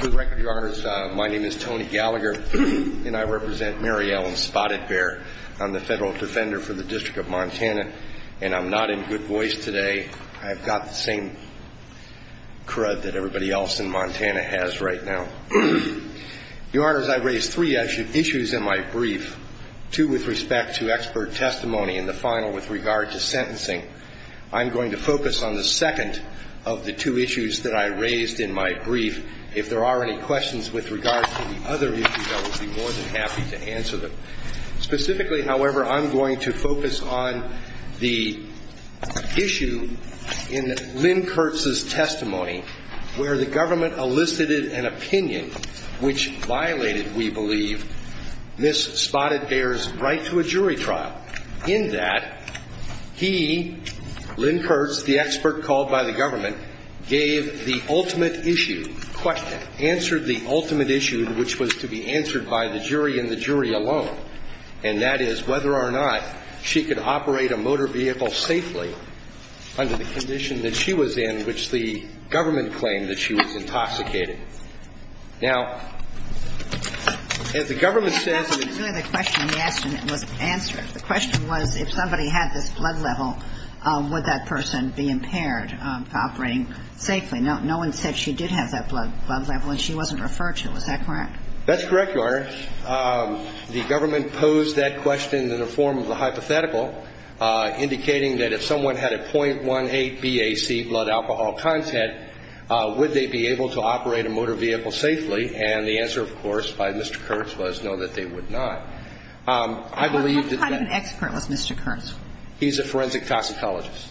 For the record, your honors, my name is Tony Gallagher, and I represent Mary Ellen Spotted Bear. I'm the federal defender for the District of Montana, and I'm not in good voice today. I've got the same crud that everybody else in Montana has right now. Your honors, I raised three issues in my brief, two with respect to expert testimony, and the final with regard to sentencing. I'm going to focus on the second of the two issues that I raised in my brief. If there are any questions with regard to the other issues, I would be more than happy to answer them. Specifically, however, I'm going to focus on the issue in Lynn Kurtz's testimony where the government elicited an opinion which violated, we believe, Ms. Spotted Bear's right to a jury trial. In that, he, Lynn Kurtz, the expert called by the government, gave the ultimate issue, question, answered the ultimate issue which was to be answered by the jury and the jury alone. And that is whether or not she could operate a motor vehicle safely under the condition that she was in which the government claimed that she was intoxicated. Now, as the government says that the question was answered, the question was if somebody had this blood level, would that person be impaired operating safely? No one said she did have that blood level, and she wasn't referred to. Is that correct? That's correct, Your Honor. The government posed that question in the form of a hypothetical, indicating that if someone had a .18 BAC blood alcohol content, would they be able to operate a motor vehicle safely? And the answer, of course, by Mr. Kurtz was no, that they would not. I believe that that – What kind of an expert was Mr. Kurtz? He's a forensic toxicologist.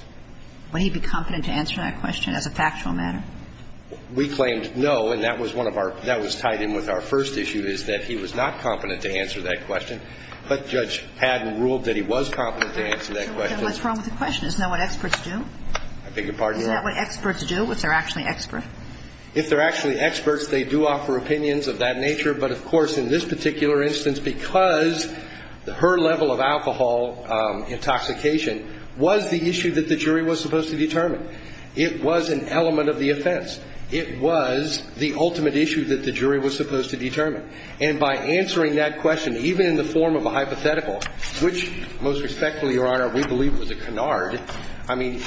Would he be competent to answer that question as a factual matter? We claimed no, and that was one of our – that was tied in with our first issue is that he was not competent to answer that question. But Judge Padden ruled that he was competent to answer that question. What's wrong with the question? Isn't that what experts do? I beg your pardon, Your Honor? Isn't that what experts do, if they're actually experts? If they're actually experts, they do offer opinions of that nature. But, of course, in this particular instance, because her level of alcohol intoxication was the issue that the jury was supposed to determine. It was an element of the offense. It was the ultimate issue that the jury was supposed to determine. And by answering that question, even in the form of a hypothetical, which, most respectfully, Your Honor, we believe was a canard, I mean,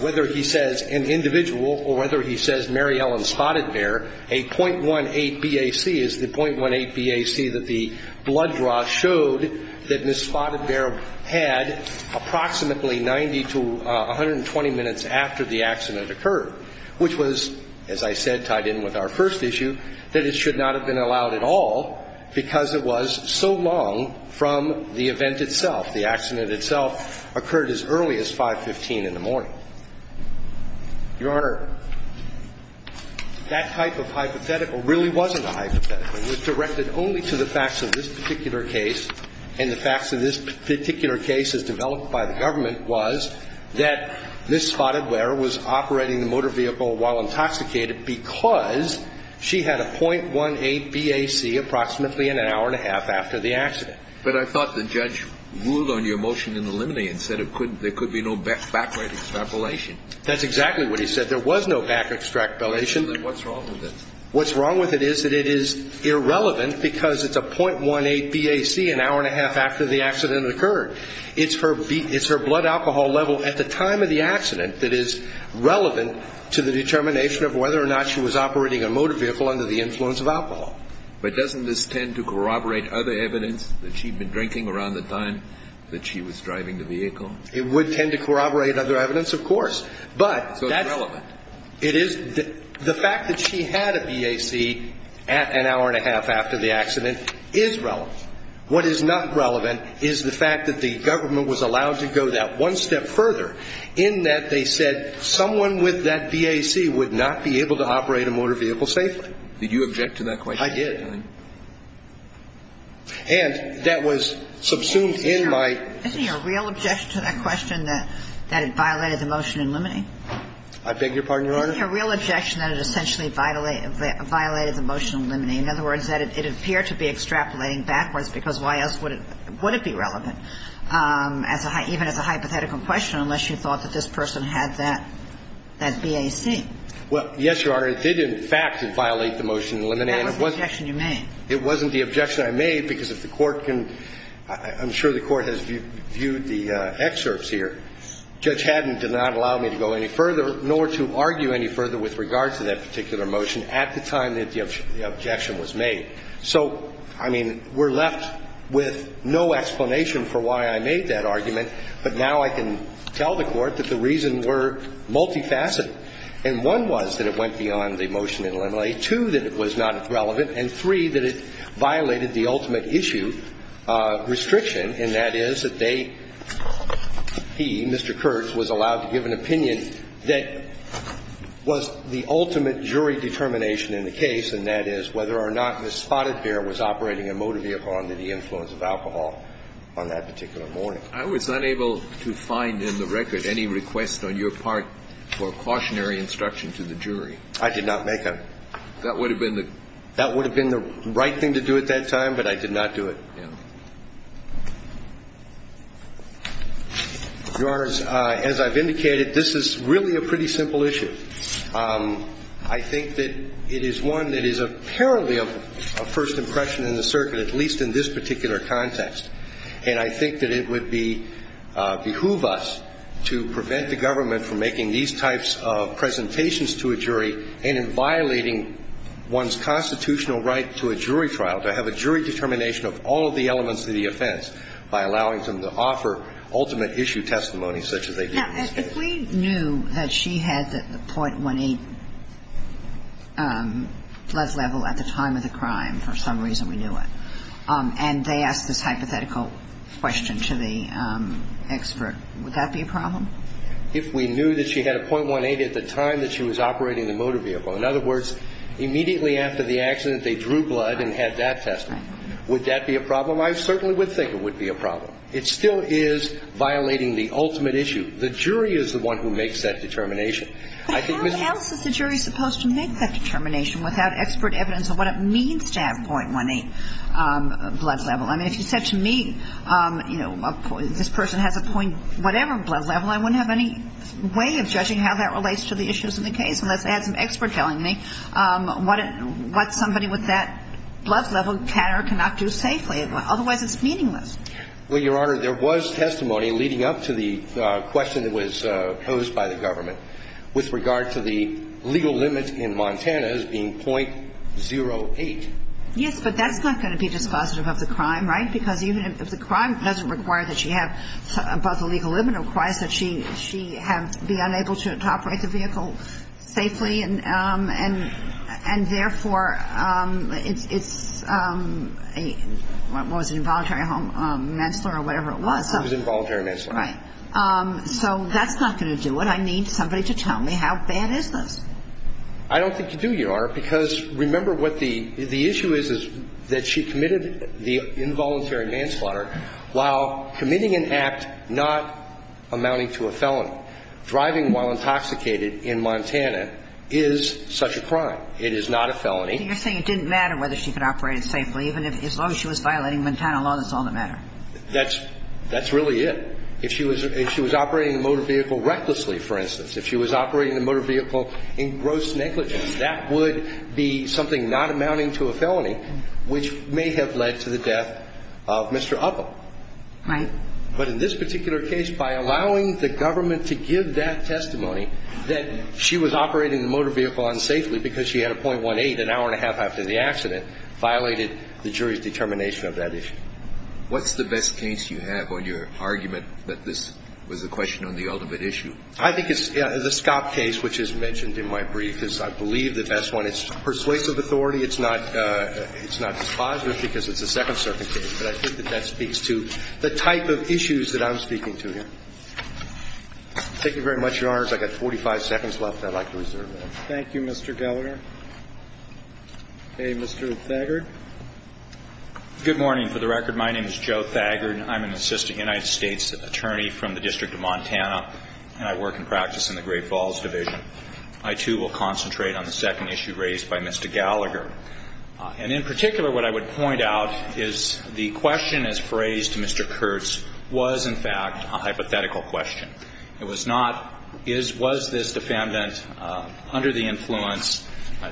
whether he says an individual or whether he says Mary Ellen Spotted Bear, a .18 BAC is the .18 BAC that the blood draw showed that Ms. Spotted Bear had approximately 90 to 120 minutes after the accident occurred, which was, as I said, tied in with our first issue, that it should not have been allowed at all. Because it was so long from the event itself. The accident itself occurred as early as 5.15 in the morning. Your Honor, that type of hypothetical really wasn't a hypothetical. That's exactly what he said. There was no back extrapolation. What's wrong with it is that it is irrelevant because it's a .18 BAC an hour and a half after the accident occurred. It's her blood alcohol level at the time of the accident that is relevant to the determination of whether or not she was operating a motor vehicle under the influence of alcohol. But doesn't this tend to corroborate other evidence that she'd been drinking around the time that she was driving the vehicle? It would tend to corroborate other evidence, of course. So it's relevant. It is. The fact that she had a BAC an hour and a half after the accident is relevant. What is not relevant is the fact that the government was allowed to go that one step further in that they said someone with that BAC would not be able to operate a motor vehicle safely. Did you object to that question? I did. And that was subsumed in my... I beg your pardon, Your Honor. Isn't it a real objection that it essentially violated the motion to eliminate? In other words, that it appeared to be extrapolating backwards because why else would it be relevant, even as a hypothetical question, unless you thought that this person had that BAC? Well, yes, Your Honor. It did, in fact, violate the motion to eliminate. That was the objection you made. It wasn't the objection I made because if the Court can – I'm sure the Court has viewed the excerpts here. Judge Haddon did not allow me to go any further nor to argue any further with regard to that particular motion at the time that the objection was made. So, I mean, we're left with no explanation for why I made that argument, but now I can tell the Court that the reasons were multifaceted. And one was that it went beyond the motion to eliminate. Two, that it was not relevant. And three, that it violated the ultimate issue restriction, and that is that they – he, Mr. Kurtz, was allowed to give an opinion that was the ultimate jury determination in the case, and that is whether or not the spotted bear was operating a motor vehicle under the influence of alcohol on that particular morning. I was unable to find in the record any request on your part for cautionary instruction to the jury. I did not make a – That would have been the – That would have been the right thing to do at that time, but I did not do it. Yeah. Your Honors, as I've indicated, this is really a pretty simple issue. I think that it is one that is apparently a first impression in the circuit, at least in this particular context. And I think that it would behoove us to prevent the government from making these types of presentations to a jury and in violating one's constitutional right to a jury trial, to have a jury determination of all of the elements of the offense by allowing them to offer ultimate issue testimony such as they do in this case. Now, if we knew that she had the .18 blood level at the time of the crime, for some reason we knew it, and they asked this hypothetical question to the expert, would that be a problem? If we knew that she had a .18 at the time that she was operating the motor vehicle, in other words, immediately after the accident they drew blood and had that testimony, would that be a problem? I certainly would think it would be a problem. It still is violating the ultimate issue. The jury is the one who makes that determination. But how else is the jury supposed to make that determination without expert evidence of what it means to have .18 blood level? I mean, if you said to me, you know, this person has a... whatever blood level, I wouldn't have any way of judging how that relates to the issues in the case unless I had some expert telling me what somebody with that blood level can or cannot do safely. Otherwise, it's meaningless. Well, Your Honor, there was testimony leading up to the question that was posed by the government with regard to the legal limit in Montana as being .08. Yes, but that's not going to be dispositive of the crime, right? Because even if the crime doesn't require that she have above the legal limit, it requires that she be unable to operate the vehicle safely, and therefore it's a, what was it, involuntary manslaughter or whatever it was? It was involuntary manslaughter. Right. So that's not going to do it. But I need somebody to tell me how bad is this. I don't think you do, Your Honor, because remember what the issue is, is that she committed the involuntary manslaughter while committing an act not amounting to a felony. Driving while intoxicated in Montana is such a crime. It is not a felony. You're saying it didn't matter whether she could operate it safely, even if as long as she was violating Montana law, that's all that mattered. That's really it. If she was operating the motor vehicle recklessly, for instance, if she was operating the motor vehicle in gross negligence, that would be something not amounting to a felony, which may have led to the death of Mr. Upham. Right. But in this particular case, by allowing the government to give that testimony that she was operating the motor vehicle unsafely because she had a .18 an hour and a half after the accident, violated the jury's determination of that issue. What's the best case you have on your argument that this was a question on the ultimate issue? I think it's the Scott case, which is mentioned in my brief. It's, I believe, the best one. It's persuasive authority. It's not dispositive because it's a second-circuit case. But I think that that speaks to the type of issues that I'm speaking to here. Thank you very much, Your Honors. I've got 45 seconds left. I'd like to reserve that. Thank you, Mr. Gallagher. Okay. Mr. Thaggart. Good morning. For the record, my name is Joe Thaggart. I'm an assistant United States attorney from the District of Montana, and I work in practice in the Great Falls Division. I, too, will concentrate on the second issue raised by Mr. Gallagher. And in particular, what I would point out is the question as phrased to Mr. Kurtz was, in fact, a hypothetical question. It was not, was this defendant under the influence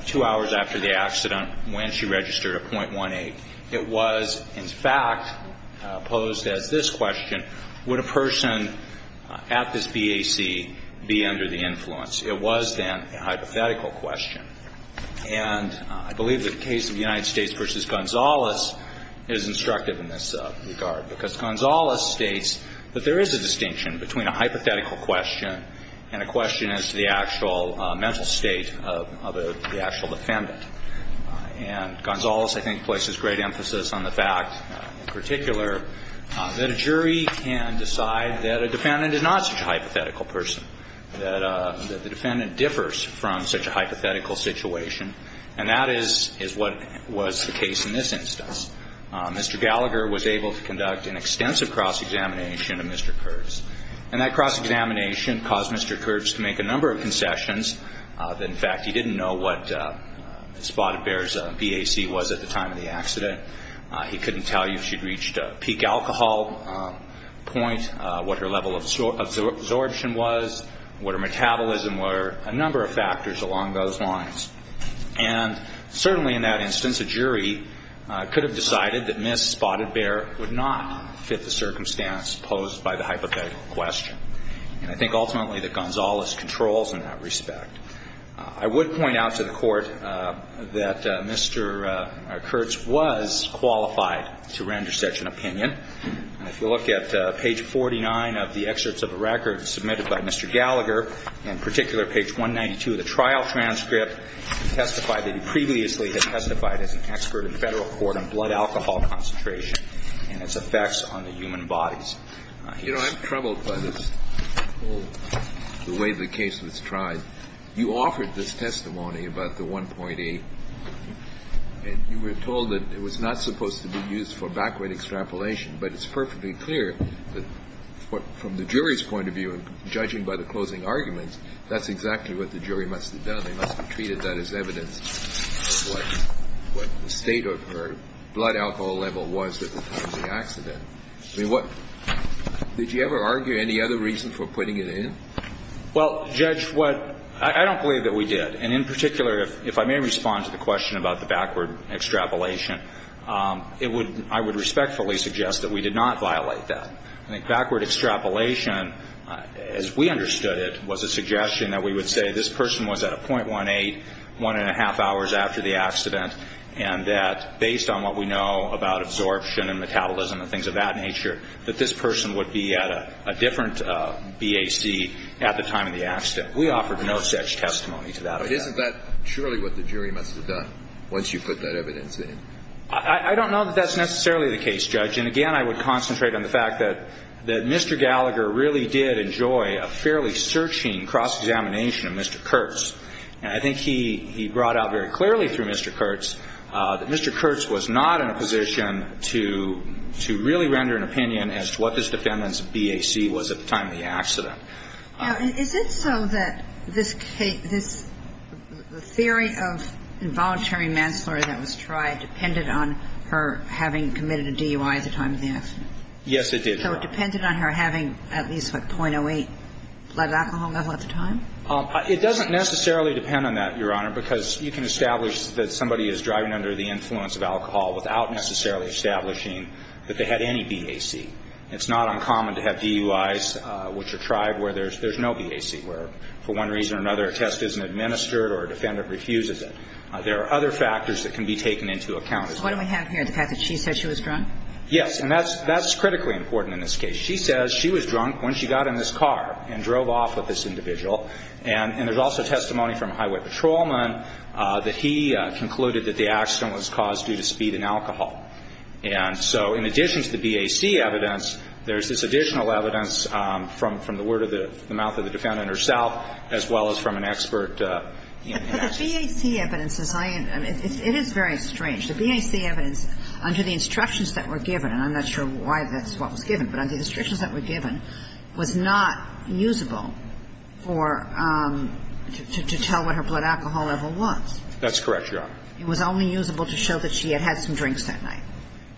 two hours after the accident when she registered a .18? It was, in fact, posed as this question, would a person at this BAC be under the influence? It was, then, a hypothetical question. And I believe that the case of United States v. Gonzales is instructive in this regard because Gonzales states that there is a distinction between a hypothetical question and a question as to the actual mental state of the actual defendant. And Gonzales, I think, places great emphasis on the fact, in particular, that a jury can decide that a defendant is not such a hypothetical person, that the defendant differs from such a hypothetical situation, and that is what was the case in this instance. Mr. Gallagher was able to conduct an extensive cross-examination of Mr. Kurtz. And that cross-examination caused Mr. Kurtz to make a number of concessions. In fact, he didn't know what Spotted Bear's BAC was at the time of the accident. He couldn't tell you if she'd reached a peak alcohol point, what her level of absorption was, what her metabolism were, a number of factors along those lines. And certainly in that instance, a jury could have decided that Ms. Spotted Bear would not fit the circumstance posed by the hypothetical question. And I think ultimately that Gonzales controls in that respect. I would point out to the Court that Mr. Kurtz was qualified to render such an opinion. If you look at page 49 of the excerpts of a record submitted by Mr. Gallagher, and in particular page 192 of the trial transcript, he testified that he previously had testified as an expert in Federal court on blood alcohol concentration and its effects on the human bodies. You know, I'm troubled by this whole way the case was tried. You offered this testimony about the 1.8, and you were told that it was not supposed to be used for BAC rate extrapolation. But it's perfectly clear that from the jury's point of view, judging by the closing arguments, that's exactly what the jury must have done. They must have treated that as evidence of what the state of her blood alcohol level was at the time of the accident. I mean, what – did you ever argue any other reason for putting it in? Well, Judge, what – I don't believe that we did. And in particular, if I may respond to the question about the BAC rate extrapolation, I would respectfully suggest that we did not violate that. I think backward extrapolation, as we understood it, was a suggestion that we would say this person was at a 0.18, one and a half hours after the accident, and that based on what we know about absorption and metabolism and things of that nature, that this person would be at a different BAC at the time of the accident. We offered no such testimony to that effect. But isn't that surely what the jury must have done once you put that evidence in? I don't know that that's necessarily the case, Judge. And again, I would concentrate on the fact that Mr. Gallagher really did enjoy a fairly searching cross-examination of Mr. Kurtz. And I think he brought out very clearly through Mr. Kurtz that Mr. Kurtz was not in a position to really render an opinion as to what this defendant's BAC was at the time of the accident. Now, is it so that this theory of involuntary manslaughter that was tried depended on her having committed a DUI at the time of the accident? Yes, it did, Your Honor. So it depended on her having at least, what, 0.08 blood alcohol level at the time? It doesn't necessarily depend on that, Your Honor, because you can establish that somebody is driving under the influence of alcohol without necessarily establishing that they had any BAC. It's not uncommon to have DUIs which are tried where there's no BAC, where for one reason or another a test isn't administered or a defendant refuses it. There are other factors that can be taken into account. What do we have here, the fact that she said she was drunk? Yes, and that's critically important in this case. She says she was drunk when she got in this car and drove off with this individual. And there's also testimony from a highway patrolman that he concluded that the accident was caused due to speed and alcohol. And so in addition to the BAC evidence, there's this additional evidence from the word of the mouth of the defendant herself as well as from an expert. But the BAC evidence, it is very strange. The BAC evidence under the instructions that were given, and I'm not sure why that's what was given, but under the instructions that were given was not usable for to tell what her blood alcohol level was. That's correct, Your Honor. It was only usable to show that she had had some drinks that night.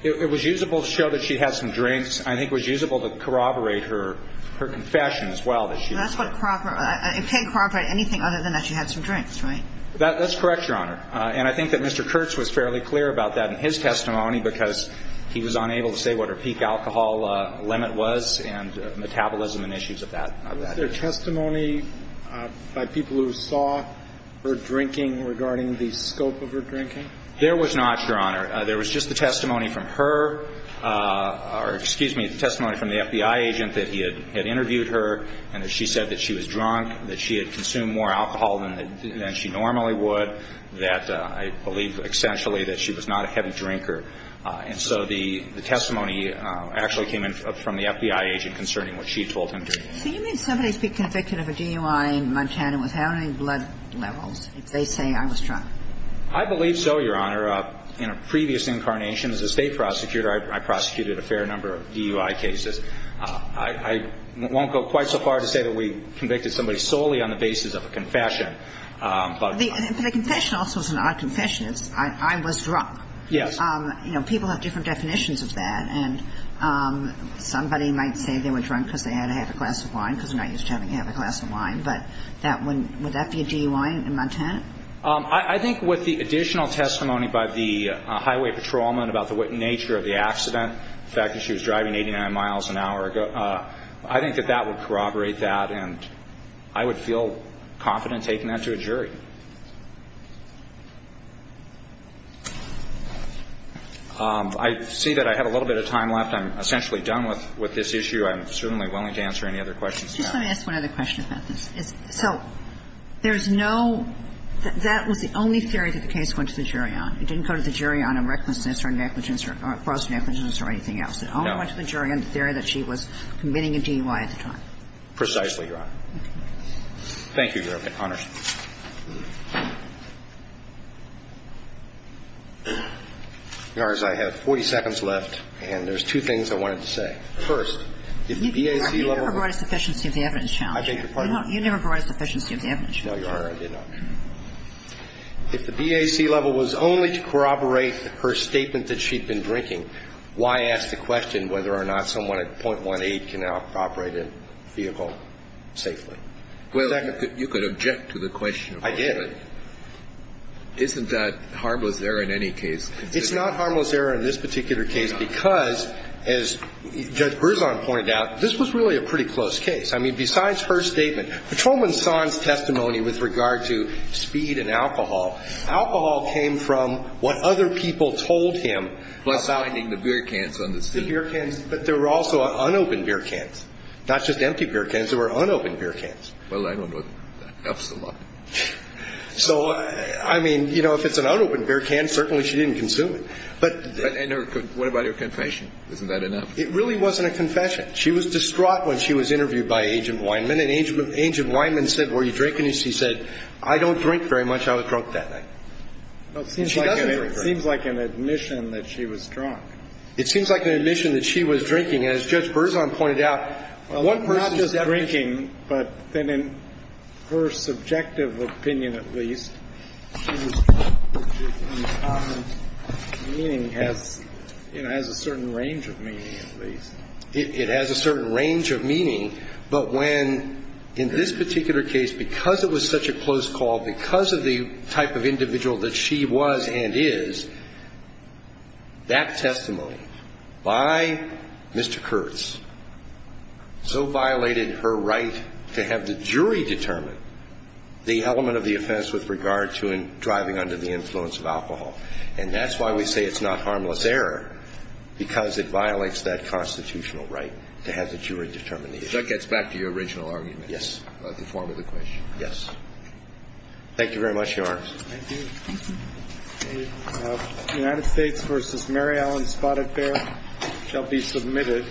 It was usable to show that she had some drinks. I think it was usable to corroborate her confession as well that she was drunk. That's what corroborate ñ it can't corroborate anything other than that she had some drinks, right? That's correct, Your Honor. And I think that Mr. Kurtz was fairly clear about that in his testimony because he was unable to say what her peak alcohol limit was and metabolism and issues of that. Was there testimony by people who saw her drinking regarding the scope of her drinking? There was not, Your Honor. There was just the testimony from her ñ or excuse me, the testimony from the FBI agent that he had interviewed her and that she said that she was drunk, that she had consumed more alcohol than she normally would, that I believe essentially that she was not a heavy drinker. And so the testimony actually came in from the FBI agent concerning what she told him. Can you make somebody be convicted of a DUI in Montana without any blood levels if they say I was drunk? I believe so, Your Honor. In a previous incarnation as a state prosecutor, I prosecuted a fair number of DUI cases. I won't go quite so far to say that we convicted somebody solely on the basis of a confession. But a confession also is not a confession. It's I was drunk. Yes. You know, people have different definitions of that. And somebody might say they were drunk because they had a half a glass of wine, because they're not used to having a half a glass of wine. But would that be a DUI in Montana? I think with the additional testimony by the highway patrolman about the nature of the accident, the fact that she was driving 89 miles an hour, I think that that would corroborate that, and I would feel confident taking that to a jury. I see that I have a little bit of time left. I'm essentially done with this issue. I'm certainly willing to answer any other questions you have. Just let me ask one other question about this. So there's no – that was the only theory that the case went to the jury on. It didn't go to the jury on a recklessness or negligence or fraudulent negligence or anything else. No. It only went to the jury on the theory that she was committing a DUI at the time. Precisely, Your Honor. Thank you, Your Honor. Your Honors, I have 40 seconds left, and there's two things I wanted to say. First, if the BAC level – You never brought a sufficiency of the evidence challenge. I beg your pardon? You never brought a sufficiency of the evidence challenge. No, Your Honor, I did not. If the BAC level was only to corroborate her statement that she'd been drinking, why ask the question whether or not someone at .18 can operate a vehicle safely? Well, you could object to the question. I did. Isn't that harmless error in any case? It's not harmless error in this particular case because, as Judge Berzon pointed out, this was really a pretty close case. I mean, besides her statement, Patrolman Son's testimony with regard to speed and alcohol, alcohol came from what other people told him about – Finding the beer cans on the street. The beer cans, but there were also unopened beer cans, not just empty beer cans. There were unopened beer cans. Well, I don't know if that helps a lot. So, I mean, you know, if it's an unopened beer can, certainly she didn't consume it. But – And what about her confession? Isn't that enough? It really wasn't a confession. She was distraught when she was interviewed by Agent Weinman. And Agent Weinman said, were you drinking? And she said, I don't drink very much. I was drunk that night. It seems like an admission that she was drunk. It seems like an admission that she was drinking. And as Judge Berzon pointed out, one person's – Well, not just drinking, but then in her subjective opinion at least, she was drunk, which in common meaning has, you know, has a certain range of meaning at least. It has a certain range of meaning. But when, in this particular case, because it was such a close call, because of the type of individual that she was and is, that testimony by Mr. Kurtz so violated her right to have the jury determine the element of the offense with regard to driving under the influence of alcohol. And that's why we say it's not harmless error, because it violates that constitutional right to have the jury determine the issue. So that gets back to your original argument. Yes. About the form of the question. Yes. Thank you. Thank you. The United States v. Mary Allen Spotted Bear shall be submitted.